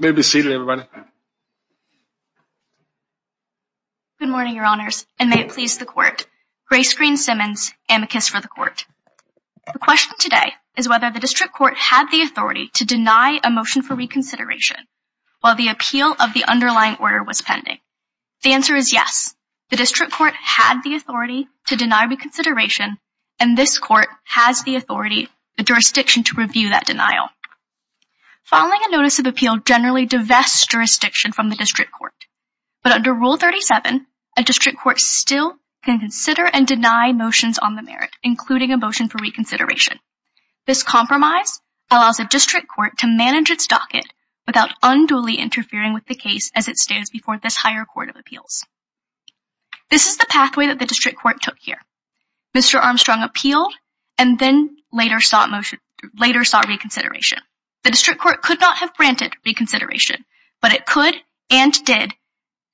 May it be seated, everybody. Good morning, Your Honors, and may it please the Court. Grace Green-Simmons, amicus for the Court. The question today is whether the District Court had the authority to deny a motion for reconsideration while the appeal of the underlying order was pending. The answer is yes. The District Court had the authority to deny reconsideration, and this Court has the authority, the jurisdiction to review that denial. Filing a notice of appeal generally divests jurisdiction from the District Court, but under Rule 37, a District Court still can consider and deny motions on the merit, including a motion for reconsideration. This compromise allows the District Court to manage its docket without unduly interfering with the case as it stands before this higher court of appeals. This is the pathway that the District Court took here. Mr. Armstrong appealed and then sought reconsideration. The District Court could not have granted reconsideration, but it could and did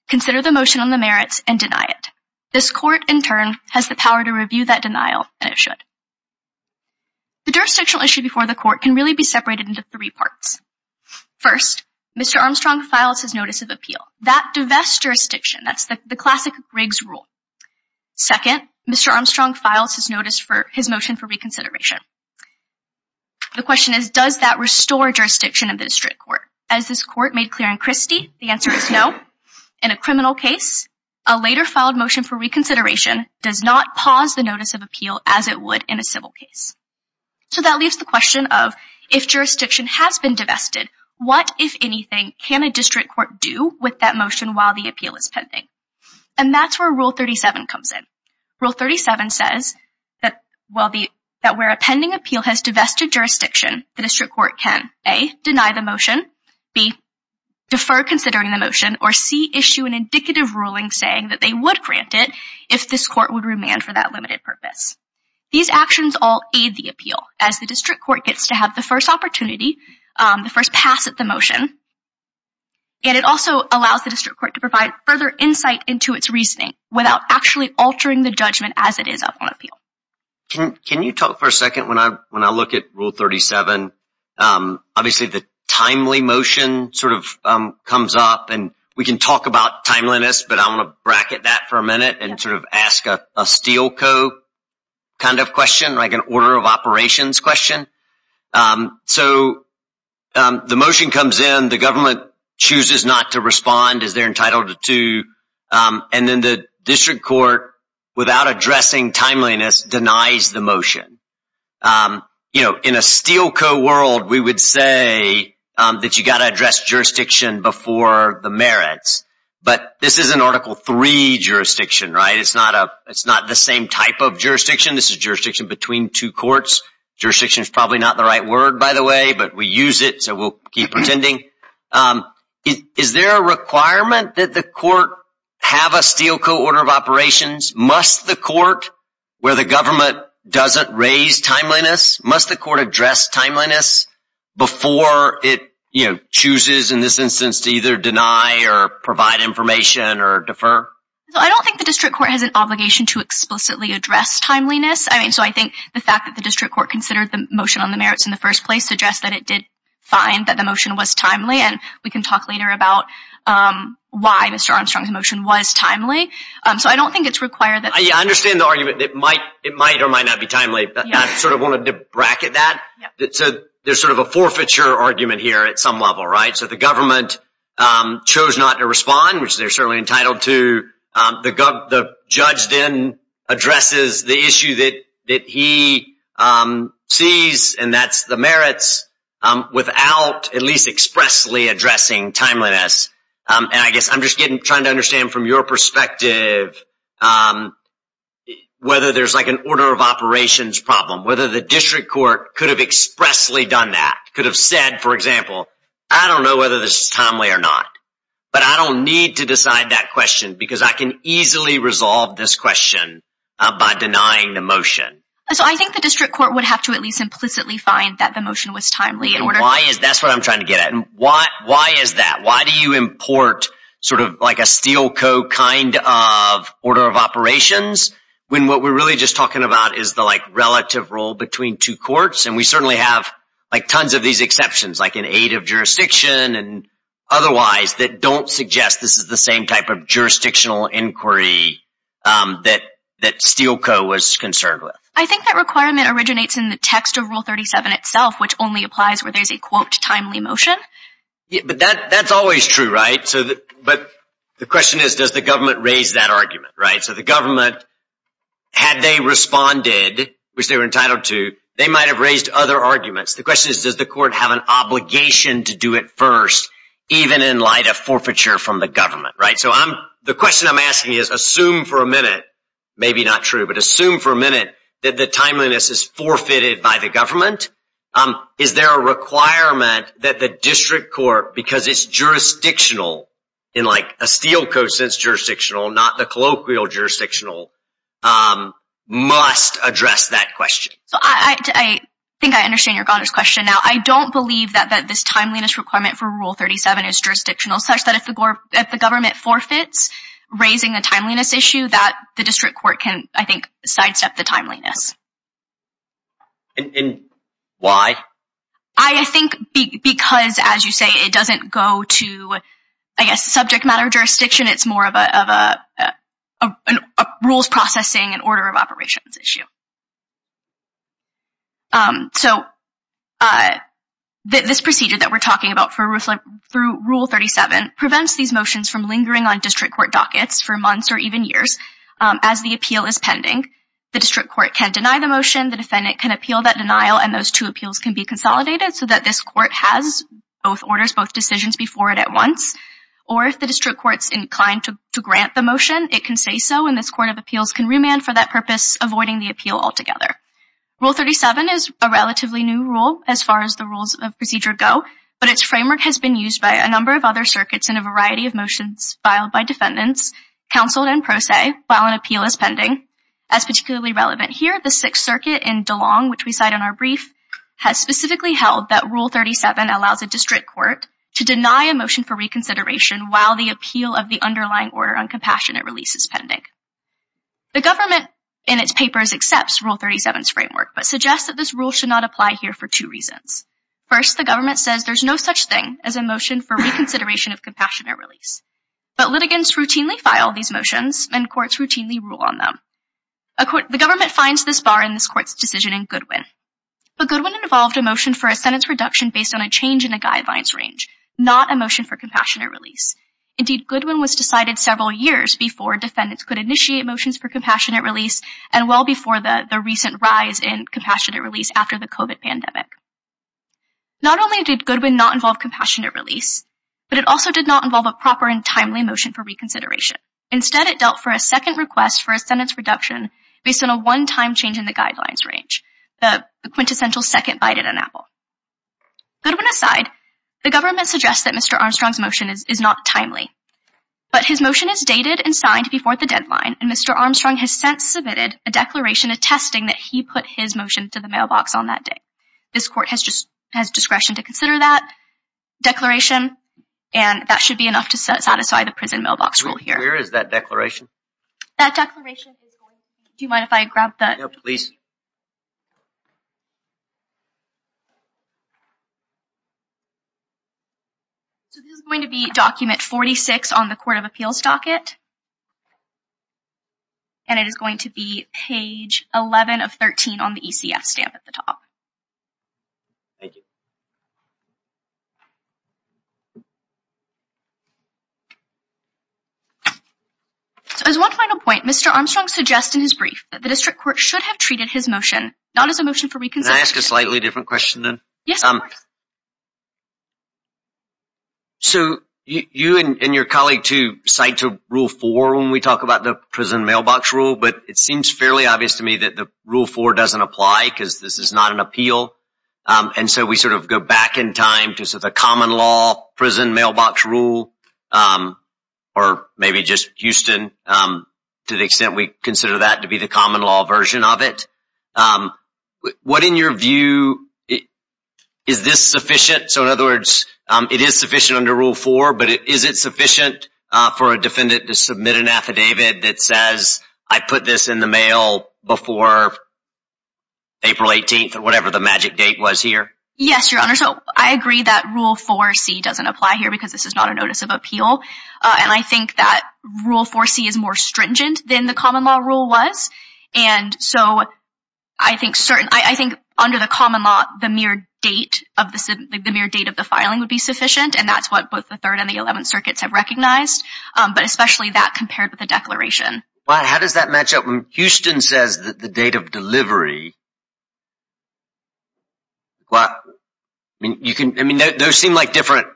consider the motion on the merits and deny it. This Court, in turn, has the power to review that denial, and it should. The jurisdictional issue before the Court can really be separated into three parts. First, Mr. Armstrong files his notice of appeal. That divests jurisdiction. That's the classic Briggs rule. Second, Mr. Armstrong files his motion for reconsideration. The question is, does that restore jurisdiction in the District Court? As this Court made clear in Christie, the answer is no. In a criminal case, a later filed motion for reconsideration does not pause the notice of appeal as it would in a civil case. So that leaves the question of, if jurisdiction has been divested, what, if anything, can a District Court do with that while the appeal is pending? And that's where Rule 37 comes in. Rule 37 says that where a pending appeal has divested jurisdiction, the District Court can, A, deny the motion, B, defer considering the motion, or C, issue an indicative ruling saying that they would grant it if this Court would remand for that limited purpose. These actions all aid the appeal, as the District Court gets to have the first opportunity, the first pass at the motion, and it also allows the District Court to provide further insight into its reasoning without actually altering the judgment as it is up on appeal. Can you talk for a second, when I look at Rule 37, obviously the timely motion sort of comes up, and we can talk about timeliness, but I want to bracket that for a minute and sort of ask a steel co kind of question, like an order of operations question. So the motion comes in, the government chooses not to respond as they're entitled to, and then the District Court, without addressing timeliness, denies the motion. You know, in a steel co world, we would say that you got to address jurisdiction before the merits, but this is an Article III jurisdiction, right? It's not the same type of jurisdiction. This is jurisdiction between two courts. Jurisdiction is probably not the right word, by the way, but we use it, so we'll keep pretending. Is there a requirement that the Court have a steel co order of operations? Must the Court, where the government doesn't raise timeliness, must the Court address timeliness before it, you know, chooses in this instance to either deny or provide information or defer? I don't think the District Court has an obligation to explicitly address timeliness. I mean, so I think the fact that the District Court considered the motion on the merits in the first place suggests that it did find that the motion was timely, and we can talk later about why Mr. Armstrong's motion was timely. So I don't think it's required. I understand the argument that it might or might not be timely, but I sort of wanted to bracket that. There's sort of a forfeiture argument here at some level, right? So the judge then addresses the issue that he sees, and that's the merits, without at least expressly addressing timeliness. And I guess I'm just trying to understand from your perspective whether there's like an order of operations problem, whether the District Court could have expressly done that, could have said, for example, I don't know whether this is timely or not, but I don't need to decide that question because I can easily resolve this question by denying the motion. So I think the District Court would have to at least implicitly find that the motion was timely. And why is that? That's what I'm trying to get at. Why is that? Why do you import sort of like a steel co kind of order of operations when what we're really just talking about is the like relative role between two courts? And we certainly have like tons of these exceptions, like an aid of jurisdiction and otherwise, that don't suggest this is the same type of jurisdictional inquiry that steel co was concerned with. I think that requirement originates in the text of Rule 37 itself, which only applies where there's a quote timely motion. But that's always true, right? But the question is, does the government raise that argument, right? So the government, had they responded, which they were entitled to, they might have raised other arguments. The question is, does the court have an obligation to do it first, even in light of forfeiture from the government, right? So the question I'm asking is, assume for a minute, maybe not true, but assume for a minute that the timeliness is forfeited by the government. Is there a requirement that the District Court, because it's jurisdictional in like a steel co sense jurisdictional, not the colloquial jurisdictional, must address that question? So I think I understand your question. Now, I don't believe that this timeliness requirement for Rule 37 is jurisdictional, such that if the government forfeits, raising a timeliness issue, that the District Court can, I think, sidestep the timeliness. And why? I think because, as you say, it doesn't go to, I guess, subject matter jurisdiction. It's more of a rules processing and order of operations issue. So this procedure that we're talking about through Rule 37 prevents these motions from lingering on District Court dockets for months or even years. As the appeal is pending, the District Court can deny the motion, the defendant can appeal that denial, and those two appeals can be consolidated so that this court has both orders, both decisions before it at once, or if the District Court's inclined to grant the motion, it can say so, and this court of appeals can remand for that purpose, avoiding the appeal altogether. Rule 37 is a relatively new rule as far as the rules of procedure go, but its framework has been used by a number of other circuits in a variety of motions filed by defendants, counseled and pro se, while an appeal is pending. As particularly relevant here, the Sixth Circuit in DeLong, which we cite in our has specifically held that Rule 37 allows a District Court to deny a motion for reconsideration while the appeal of the underlying order on compassionate release is pending. The government in its papers accepts Rule 37's framework but suggests that this rule should not apply here for two reasons. First, the government says there's no such thing as a motion for reconsideration of compassionate release, but litigants routinely file these motions and courts routinely rule on them. The government finds this bar in this court's decision in Goodwin, but Goodwin involved a motion for a sentence reduction based on a change in a guidelines range, not a motion for compassionate release. Indeed, Goodwin was decided several years before defendants could initiate motions for compassionate release and well before the the recent rise in compassionate release after the COVID pandemic. Not only did Goodwin not involve compassionate release, but it also did not involve a proper and timely motion for reconsideration. Instead, it dealt for a second request for a reduction based on a one-time change in the guidelines range, the quintessential second bite at an apple. Goodwin aside, the government suggests that Mr. Armstrong's motion is not timely, but his motion is dated and signed before the deadline and Mr. Armstrong has since submitted a declaration attesting that he put his motion to the mailbox on that day. This court has just has discretion to consider that declaration and that should be enough to satisfy the prison mailbox rule here. Where is that declaration? That declaration is going to be document 46 on the court of appeals docket and it is going to be page 11 of 13 on the ECF stamp at the top. Thank you. So as one final point, Mr. Armstrong suggests in his brief that the district court should have treated his motion not as a motion for reconsideration. Can I ask a slightly different question then? Yes, of course. So you and your colleague too cite to rule four when we talk about the prison mailbox rule, but it seems fairly obvious to me that the rule four doesn't apply because this is not an appeal. And so we sort of go back in time to the common law prison mailbox rule or maybe just Houston to the extent we consider that to be the common law version of it. What in your view is this sufficient? So in other words, it is sufficient under rule four, but is it sufficient for a defendant to submit an affidavit that says I put this in the mail before April 18th or whatever the magic date was here? Yes, your honor. So I agree that rule four C doesn't apply here because this is not a notice of appeal. And I think that rule four C is more stringent than the common law rule was. And so I think under the common law, the mere date of the filing would be sufficient. And that's what both the third and the 11th circuits have recognized, but especially that compared with the declaration. How does that match up when Houston says the date of delivery? Those seem like different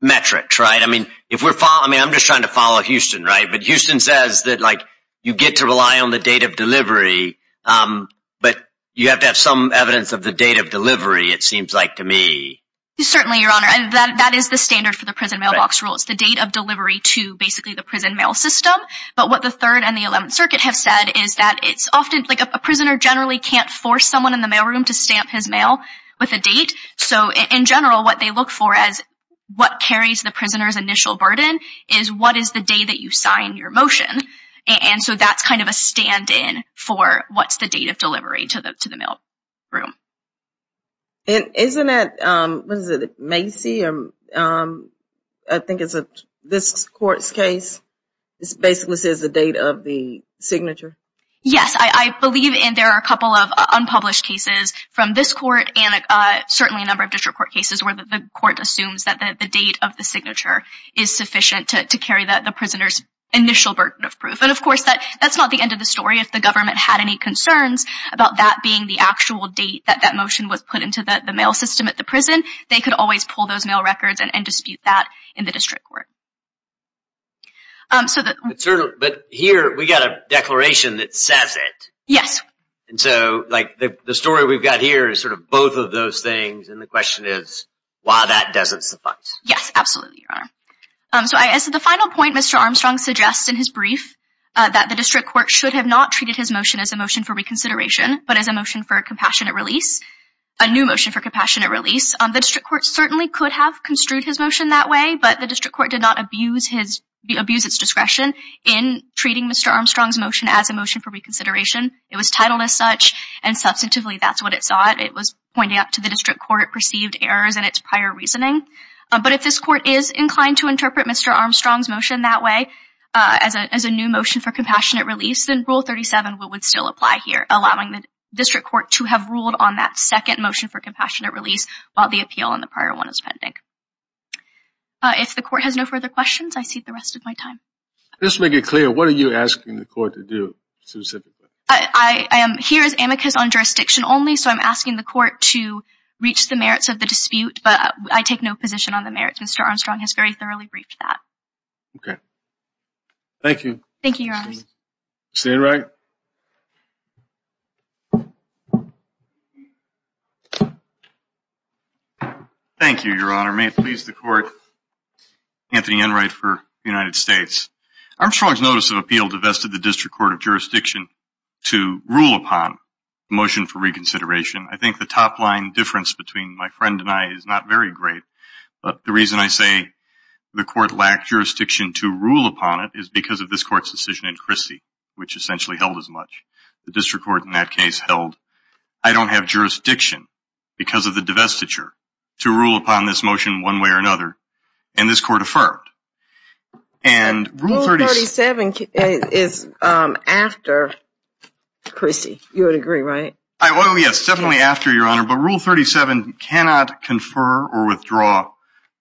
metrics, right? I mean, I'm just trying to follow Houston, right? But Houston says that you get to rely on the date of delivery, but you have to have some evidence of the date of delivery, it seems like to me. Certainly, your honor. And that is the standard for the prison mailbox rule. It's the date of delivery to basically the prison mail system. But what the third and the 11th circuit have said is that it's often like a prisoner generally can't force someone in the mailroom to stamp his mail with a date. So in general, what they look for as what carries the prisoner's initial burden is what is the day that you sign your motion. And so that's kind of a stand-in for what's the date of delivery to the mail room. And isn't that, what is it, Macy? I think it's this court's case. It basically says the date of the signature. Yes, I believe in there are a couple of unpublished cases from this court and certainly a number of district court cases where the court assumes that the date of the signature is sufficient to carry the prisoner's initial burden of proof. And of course, that's not the end of the story. If the motion was put into the mail system at the prison, they could always pull those mail records and dispute that in the district court. But here we got a declaration that says it. Yes. And so like the story we've got here is sort of both of those things and the question is why that doesn't suffice. Yes, absolutely, your honor. So as the final point, Mr. Armstrong suggests in his brief that the district court should have not treated his motion as a motion for reconsideration but as a motion for a compassionate release, a new motion for compassionate release. The district court certainly could have construed his motion that way, but the district court did not abuse its discretion in treating Mr. Armstrong's motion as a motion for reconsideration. It was titled as such and substantively that's what it sought. It was pointing out to the district court perceived errors in its prior reasoning. But if this court is inclined to interpret Mr. Armstrong's motion that way as a new motion for compassionate release, then Rule 37 would still apply here, allowing the district court to have ruled on that second motion for compassionate release while the appeal on the prior one is pending. If the court has no further questions, I cede the rest of my time. Just to make it clear, what are you asking the court to do specifically? I am here as amicus on jurisdiction only, so I'm asking the court to reach the merits of the dispute, but I take no position on the merits. Mr. Armstrong has very thoroughly briefed that. Okay. Thank you. Thank you, Your Honor. Mr. Enright. Thank you, Your Honor. May it please the court, Anthony Enright for the United States. Armstrong's notice of appeal divested the district court of jurisdiction to rule upon the motion for reconsideration. I think the top line difference between my friend and I is not very great, but the reason I say the court lacked jurisdiction to rule upon it is because of this court's decision in Chrissy, which essentially held as much. The district court in that case held, I don't have jurisdiction because of the divestiture to rule upon this motion one way or another, and this court affirmed. And Rule 37 is after Chrissy. You would agree, right? Oh yes, definitely after, Your Honor. But Rule 37 cannot confer or withdraw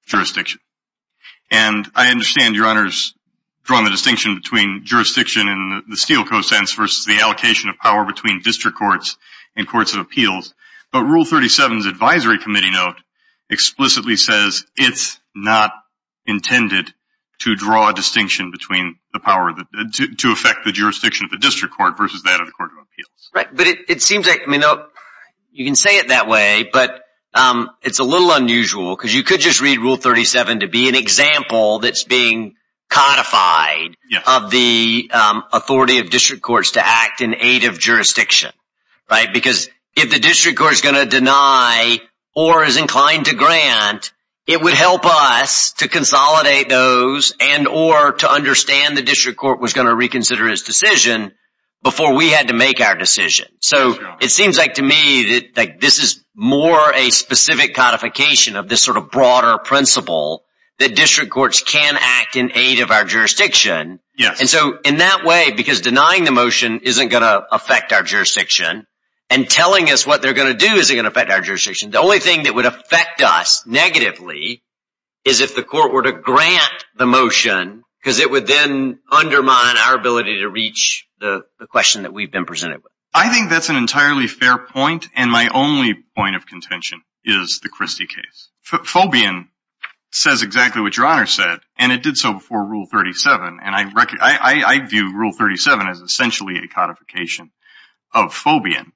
jurisdiction. And I understand, Your Honor, is drawing the distinction between jurisdiction and the steel cosense versus the allocation of power between district courts and courts of appeals. But Rule 37's advisory committee note explicitly says it's not intended to draw a distinction between the power to affect the jurisdiction of the district court versus that of the court of appeals. Right. But it seems like, you can say it that way, but it's a little unusual because you could just read Rule 37 to be an example that's being codified of the authority of district courts to act in aid of jurisdiction, right? Because if the district court is going to deny or is inclined to grant, it would help us to consolidate those and or to understand the district court was going to like this is more a specific codification of this sort of broader principle that district courts can act in aid of our jurisdiction. And so in that way, because denying the motion isn't going to affect our jurisdiction and telling us what they're going to do isn't going to affect our jurisdiction, the only thing that would affect us negatively is if the court were to grant the motion because it would then undermine our ability to reach the question that we've been presented with. I think that's an entirely fair point. And my only point of contention is the Christie case. Phobian says exactly what your honor said, and it did so before Rule 37. And I, I view Rule 37 as essentially a codification of Phobian.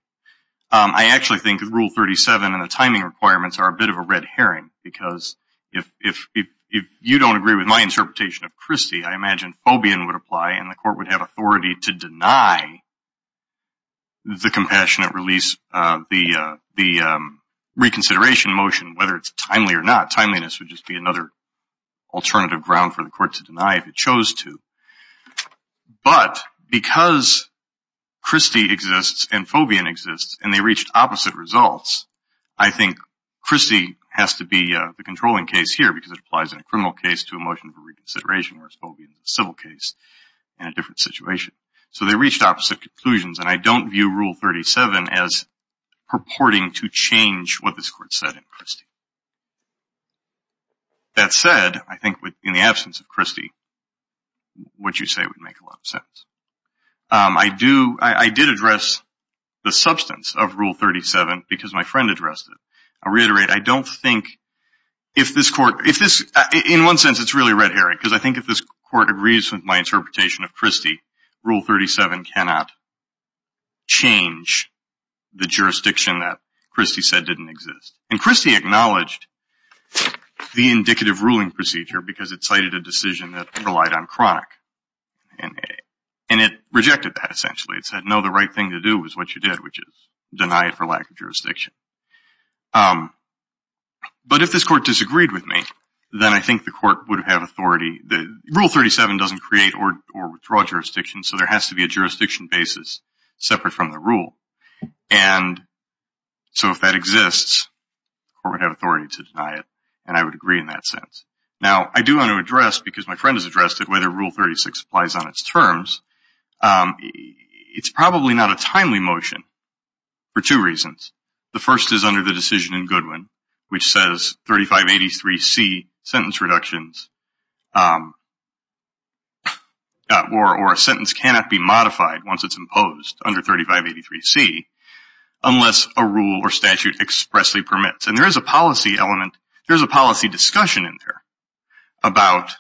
I actually think Rule 37 and the timing requirements are a bit of a red herring because if, if, if you don't agree with my interpretation of Christie, I imagine Phobian would apply and the court would have authority to deny the compassionate release of the, the reconsideration motion, whether it's timely or not. Timeliness would just be another alternative ground for the court to deny if it chose to. But because Christie exists and Phobian exists and they reached opposite results, I think Christie has to be the controlling case here because it applies in a criminal case to a motion for reconsideration, whereas Phobian is a civil case in a different situation. So they reached opposite conclusions and I don't view Rule 37 as purporting to change what this court said in Christie. That said, I think in the absence of Christie, what you say would make a lot of sense. I do, I did address the substance of Rule 37 because my friend addressed it. I'll reiterate, I don't think if this court, if this, in one sense it's really red herring because I think if this court agrees with my interpretation of Christie, Rule 37 cannot change the jurisdiction that Christie said didn't exist. And Christie acknowledged the indicative ruling procedure because it cited a decision that relied on chronic and it rejected that essentially. It said no, the right thing to do is what you did, which is deny it for lack of jurisdiction. But if this court disagreed with me, then I think the court would have authority, the Rule 37 doesn't create or withdraw jurisdiction, so there has to be a jurisdiction basis separate from the rule. And so if that exists, the court would have authority to deny it and I would agree in that sense. Now I do want to address, because my friend has addressed it, whether Rule 36 applies on its terms. It's probably not a timely motion for two reasons. The first is under the decision in Goodwin, which says 3583C sentence reductions or a sentence cannot be modified once it's imposed under 3583C unless a rule or statute expressly permits. And there is a policy element, there's a policy discussion in there about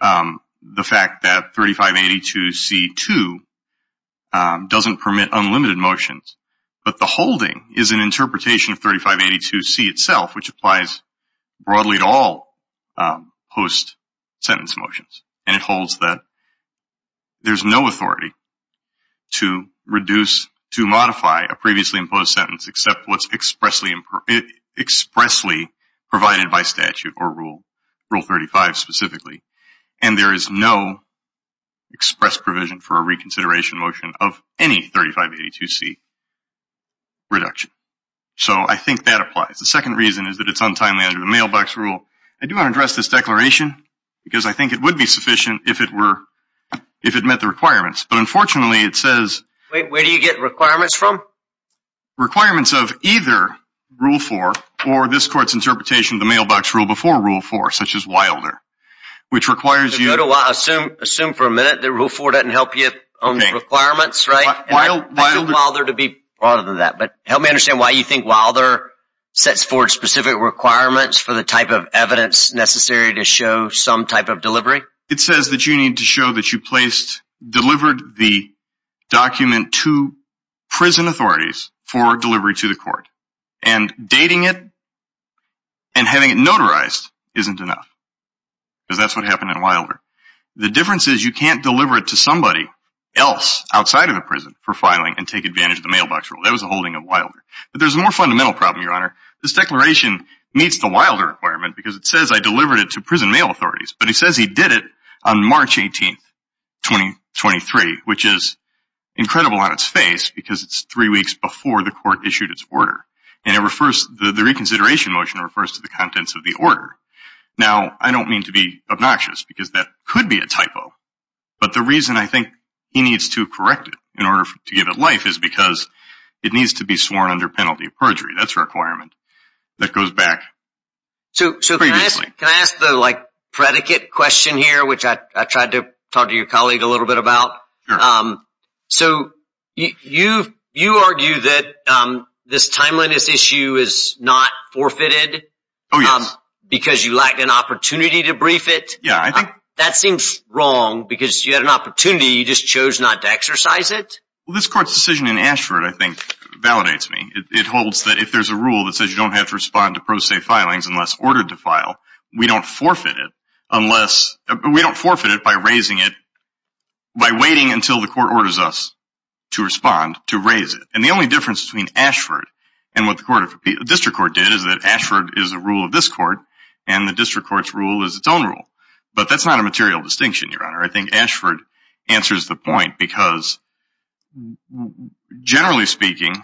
the fact that 3582C2 doesn't permit unlimited motions, but the holding is an interpretation of 3582C itself, which applies broadly to all post-sentence motions. And it holds that there's no authority to reduce, to modify a previously imposed sentence except what's expressly provided by statute or rule. Right now, there's no authority to modify Rule 35 specifically and there is no express provision for a reconsideration motion of any 3582C reduction. So I think that applies. The second reason is that it's untimely under the mailbox rule. I do want to address this declaration because I think it would be sufficient if it were, if it met the requirements. But unfortunately it says... Where do you get requirements from? Requirements of either Rule 4 or this court's interpretation of the mailbox rule before Rule 4, such as Wilder, which requires you... Go to Wilder. Assume for a minute that Rule 4 doesn't help you on the requirements, right? Okay. Wilder... I told Wilder to be prouder than that. But help me understand why you think Wilder sets forth specific requirements for the type of evidence necessary to show some type of delivery? It says that you need to show that you placed, delivered the document to prison authorities for delivery to the court. And dating it and having it notarized isn't enough. Because that's what happened in Wilder. The difference is you can't deliver it to somebody else outside of the prison for filing and take advantage of the mailbox rule. That was the holding of Wilder. But there's a more fundamental problem, Your Honor. This declaration meets the Wilder requirement because it says I delivered it to prison mail authorities. But it says he did it on March 18th, 2023, which is incredible on its face because it's three weeks before the court issued its order. And the reconsideration motion refers to the contents of the order. Now, I don't mean to be obnoxious because that could be a typo. But the reason I think he needs to correct it in order to give it life is because it needs to be sworn under penalty of perjury. That's a requirement that goes back previously. Can I ask the predicate question here, which I tried to talk to your colleague a little bit about? Sure. So you argue that this timeliness issue is not forfeited? Oh, yes. Because you lacked an opportunity to brief it? Yeah, I think. That seems wrong because you had an opportunity. You just chose not to exercise it? Well, this court's decision in Ashford, I think, validates me. It holds that if there's a rule that says you don't have to respond to pro se filings unless ordered to file, we don't forfeit it. We don't forfeit it by raising it by waiting until the court orders us to respond to raise it. And the only difference between Ashford and what the district court did is that Ashford is a rule of this court and the district court's rule is its own rule. But that's not a material distinction, Your Honor. I think Ashford answers the point because, generally speaking...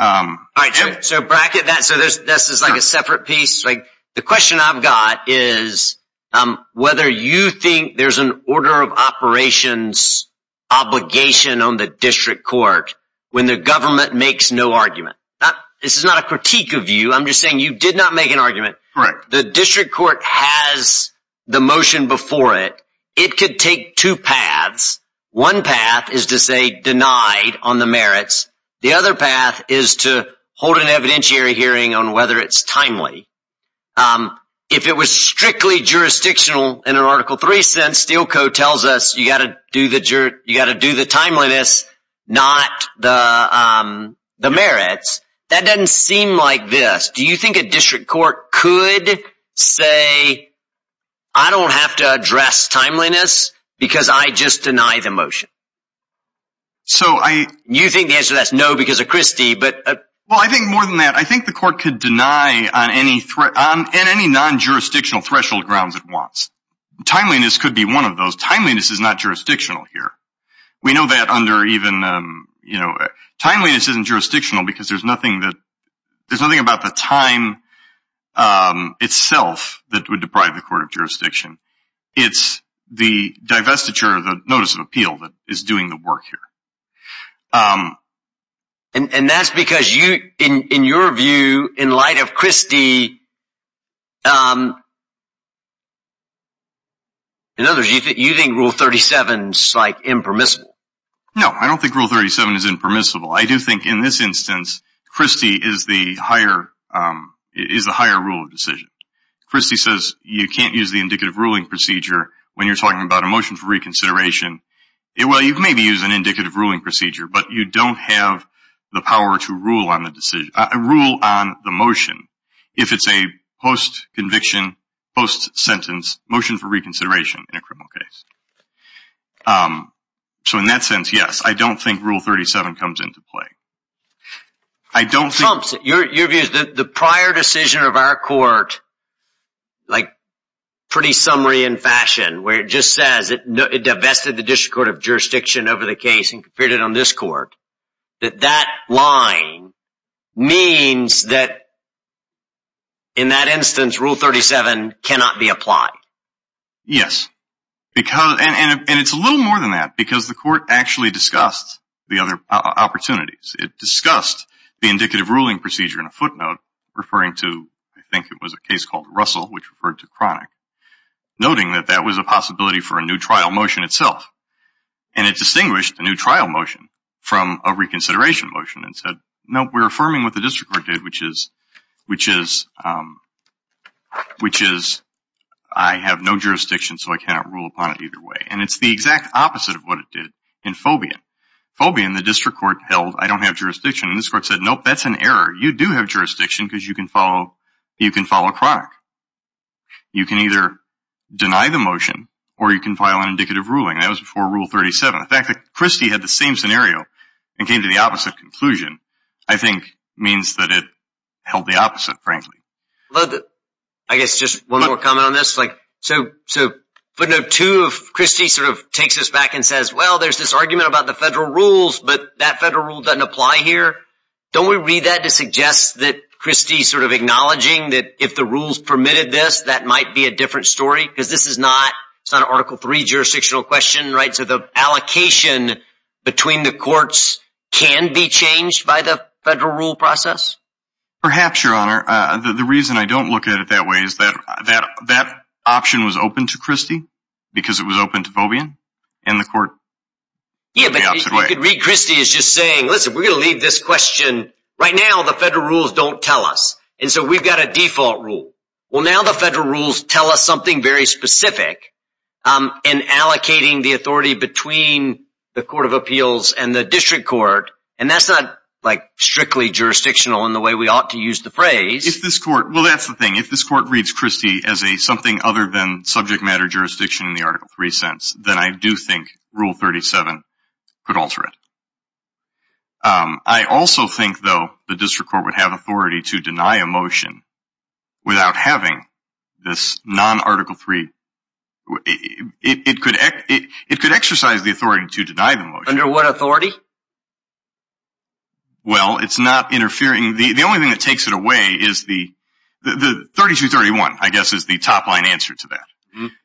All right, so bracket that. So this is like a separate piece. The question I've got is whether you think there's an order of operations obligation on the district court when the government makes no argument. This is not a critique of you. I'm just saying you did not make an argument. Correct. The district court has the motion before it. It could take two paths. One path is to say denied on the merits. The other path is to hold an evidentiary hearing on whether it's timely. If it was strictly jurisdictional in an Article 3 sense, Steel Co. tells us you got to do the timeliness, not the merits. That doesn't seem like this. Do you think a district court could say, I don't have to address timeliness because I just deny the motion? So I... You think the answer to that is no because of Christie, but... I think more than that. I think the court could deny on any non-jurisdictional threshold grounds it wants. Timeliness could be one of those. Timeliness is not jurisdictional here. We know that under even... Timeliness isn't jurisdictional because there's nothing about the time itself that would deprive the court of jurisdiction. It's the divestiture, the notice of appeal that is doing the work here. Um, and that's because you, in your view, in light of Christie, um, in other words, you think Rule 37 is like impermissible? No, I don't think Rule 37 is impermissible. I do think in this instance, Christie is the higher, um, is the higher rule of decision. Christie says you can't use the indicative ruling procedure when you're talking about a motion for reconsideration. Well, you can maybe use an indicative ruling procedure, but you don't have the power to rule on the decision, rule on the motion if it's a post-conviction, post-sentence motion for reconsideration in a criminal case. Um, so in that sense, yes, I don't think Rule 37 comes into play. I don't think... where it just says it divested the District Court of Jurisdiction over the case and conferred it on this court, that that line means that in that instance, Rule 37 cannot be applied. Yes, because, and it's a little more than that because the court actually discussed the other opportunities. It discussed the indicative ruling procedure in a footnote referring to, I think it was a case called Russell, which referred to Chronic, noting that that was a possibility for a new trial motion itself. And it distinguished a new trial motion from a reconsideration motion and said, no, we're affirming what the District Court did, which is, which is, um, which is, I have no jurisdiction, so I cannot rule upon it either way. And it's the exact opposite of what it did in Fobian. Fobian, the District Court held, I don't have jurisdiction. This court said, nope, that's an error. You do have jurisdiction because you can follow, you can follow Chronic. You can either deny the motion or you can file an indicative ruling. That was before Rule 37. The fact that Christie had the same scenario and came to the opposite conclusion, I think, means that it held the opposite, frankly. I guess just one more comment on this. Like, so, so footnote two of Christie sort of takes us back and says, well, there's this argument about the federal rules, but that federal rule doesn't apply here. Don't we read that to suggest that Christie sort of acknowledging that if the rules permitted this, that might be a different story because this is not, it's not an Article III jurisdictional question, right? So the allocation between the courts can be changed by the federal rule process? Perhaps, Your Honor. Uh, the, the reason I don't look at it that way is that, that, that option was open to Christie because it was open to Fobian and the court. Yeah, but you could read Christie as just saying, listen, we're going to leave this question right now, the federal rules don't tell us. And so we've got a default rule. Well, now the federal rules tell us something very specific, um, in allocating the authority between the Court of Appeals and the District Court. And that's not like strictly jurisdictional in the way we ought to use the phrase. If this court, well, that's the thing. If this court reads Christie as a something other than subject matter jurisdiction in the Article III sense, then I do think Rule 37 could alter it. Um, I also think though the District Court would have authority to deny a motion without having this non-Article III, it, it could, it could exercise the authority to deny the motion. Under what authority? Well, it's not interfering. The, the only thing that takes it away is the, the 3231, I guess is the top line answer to that.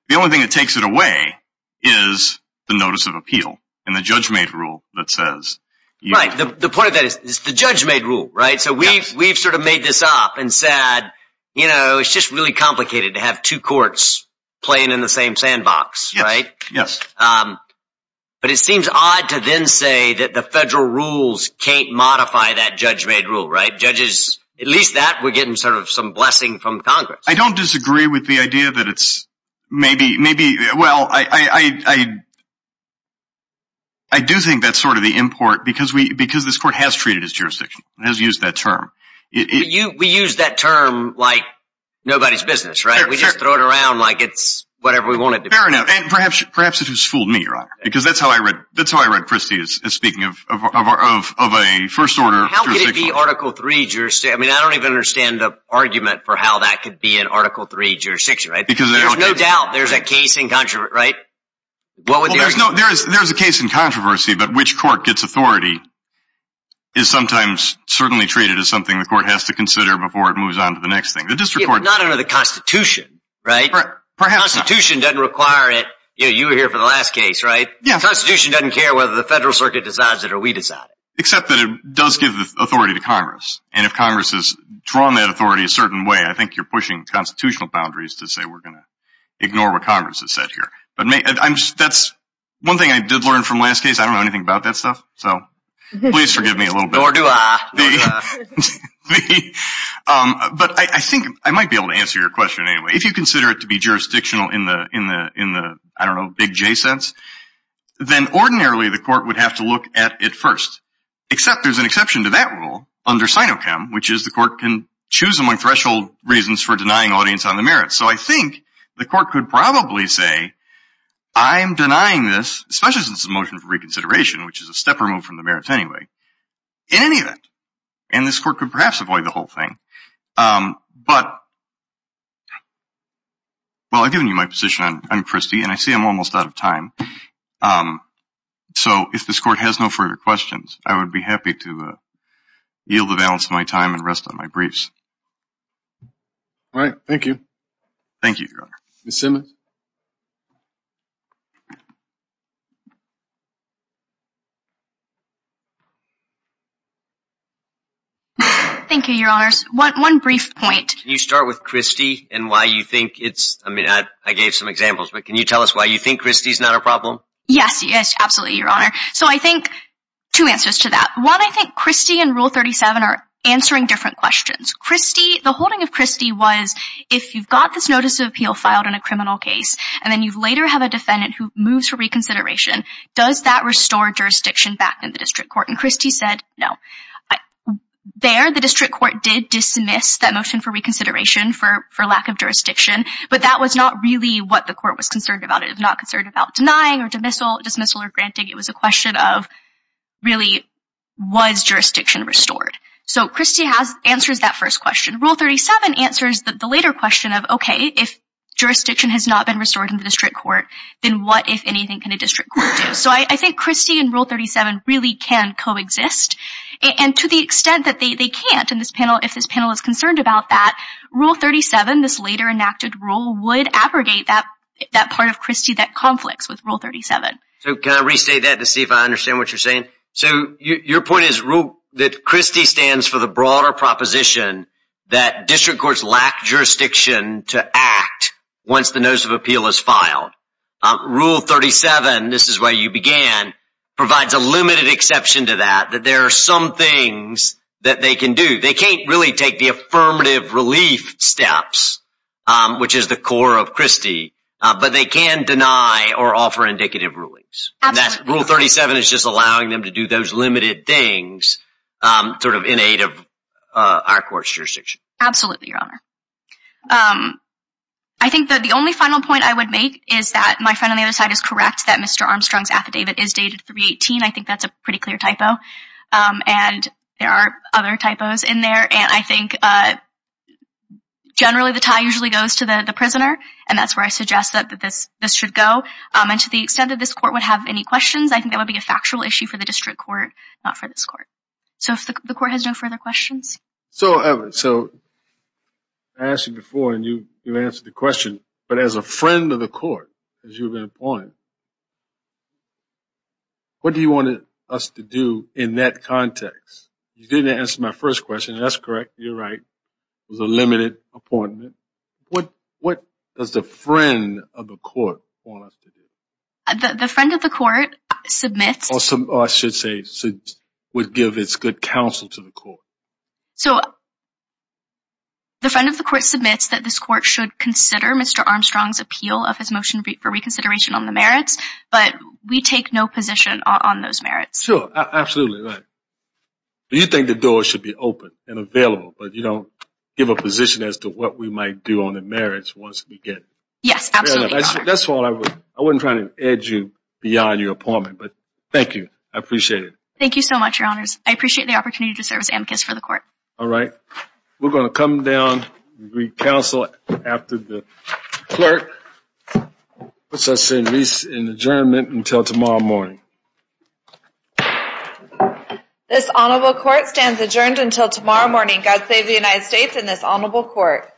The only thing that takes it away is the Notice of Appeal and the Judge-Made Rule that says... Right. The point of that is the Judge-Made Rule, right? So we've, we've sort of made this up and said, you know, it's just really complicated to have two courts playing in the same sandbox, right? Yes. Um, but it seems odd to then say that the federal rules can't modify that Judge-Made Rule, right? Judges, at least that we're getting sort of some blessing from Congress. I don't disagree with the idea that it's maybe, maybe, well, I, I, I, I, I do think that's sort of the import because we, because this court has treated as jurisdiction, has used that term. You, we use that term like nobody's business, right? We just throw it around like it's whatever we want it to be. Fair enough. And perhaps, perhaps it has fooled me, Your Honor, because that's how I read, that's how I read Christie is speaking of, of, of, of a first order jurisdiction. How could it be Article III jurisdiction? I mean, I don't even understand the argument for how that could be an Article III jurisdiction, right? Because there's no doubt there's a case in controversy, right? Well, there's no, there is, there's a case in controversy, but which court gets authority is sometimes certainly treated as something the court has to consider before it moves on to the next thing. The district court, not under the constitution, right? Constitution doesn't require it. You know, you were here for the last case, right? Constitution doesn't care whether the federal circuit decides it or we decide it. Except that it does give the authority to Congress. And if Congress has drawn that authority a certain way, I think you're pushing constitutional boundaries to say we're going to ignore what Congress has said here. But that's one thing I did learn from last case. I don't know anything about that stuff. So please forgive me a little bit. Nor do I. But I think I might be able to answer your question anyway. If you consider it to be jurisdictional in the, in the, in the, I don't know, big J sense, then ordinarily the court would have to look at it first. Except there's an exception to that rule under SINOCHEM, which is the court can choose among threshold reasons for denying audience on the merits. So I think the court could probably say, I'm denying this, especially since it's a motion for reconsideration, which is a step removed from the merits anyway, in any event, and this court could perhaps avoid the whole thing. But, well, I've given you my position on Christie and I see I'm almost out of time. So if this court has no further questions, I would be happy to yield the balance of my time and rest on my briefs. All right. Thank you. Thank you. Thank you, your honors. One brief point. Can you start with Christie and why you think it's, I mean, I gave some examples, but can you tell us why you think Christie's not a problem? Yes, yes, absolutely, your honor. So I think two answers to that. One, I think Christie and rule 37 are answering different questions. Christie, the holding of Christie was if you've got this notice of appeal filed in a criminal case, and then you later have a defendant who moves for reconsideration, does that restore jurisdiction back in the district court? And Christie said, no. There, the district court did dismiss that motion for reconsideration for lack of jurisdiction, but that was not really what the court was concerned about. It was not concerned about denying or dismissal or granting. It was a question of really, was jurisdiction restored? So Christie answers that first question. Rule 37 answers the later question of, okay, if jurisdiction has not been restored in the district court, then what, if anything, can a district court do? So I think Christie and rule 37 really can coexist. And to the extent that they can't in this panel, if this panel is concerned about that, rule 37, this later enacted rule, would abrogate that part of Christie that conflicts with rule 37. So can I restate that to see if I understand what you're saying? So your point is that Christie stands for the broader proposition that district courts lack jurisdiction to act once the notice of appeal is filed. Rule 37, this is where you began, provides a limited exception to that, that there are some things that they can do. They can't really take the affirmative relief steps, which is the core of Christie, but they can deny or offer indicative rulings. Rule 37 is just allowing them to do those limited things in aid of our court's jurisdiction. Absolutely, Your Honor. I think that the only final point I would make is that my friend on the other side is correct that Mr. Armstrong's affidavit is dated 318. I think that's a pretty clear typo. And there are other typos in there. And I think generally, the tie usually goes to the prisoner. And that's where I suggest that this should go. And to the extent that this court would have any questions, I think that would be a factual issue for the district court, not for this court. So if the court has no further questions. So, Evan, so I asked you before and you answered the question, but as a friend of the court, as you were going to point, what do you want us to do in that context? You didn't answer my first question. That's correct. You're right. It was a limited appointment. What does the friend of the court want us to do? The friend of the court submits... Or I should say, would give its good counsel to the court. So the friend of the court submits that this court should consider Mr. Armstrong's appeal of his motion for reconsideration on the merits, but we take no position on those merits. Sure. Absolutely. Right. But you think the door should be open and available, but you don't give a position as to what we might do on the merits once we get it. Yes, absolutely, Your Honor. That's all I would... I wasn't trying to edge you beyond your appointment, but thank you. I appreciate it. Thank you so much, Your Honors. I appreciate the opportunity to serve as amicus for the court. All right. We're going to come down and re-counsel after the clerk puts us in adjournment until tomorrow morning. This honorable court stands adjourned until tomorrow morning. God save the United States and this honorable court.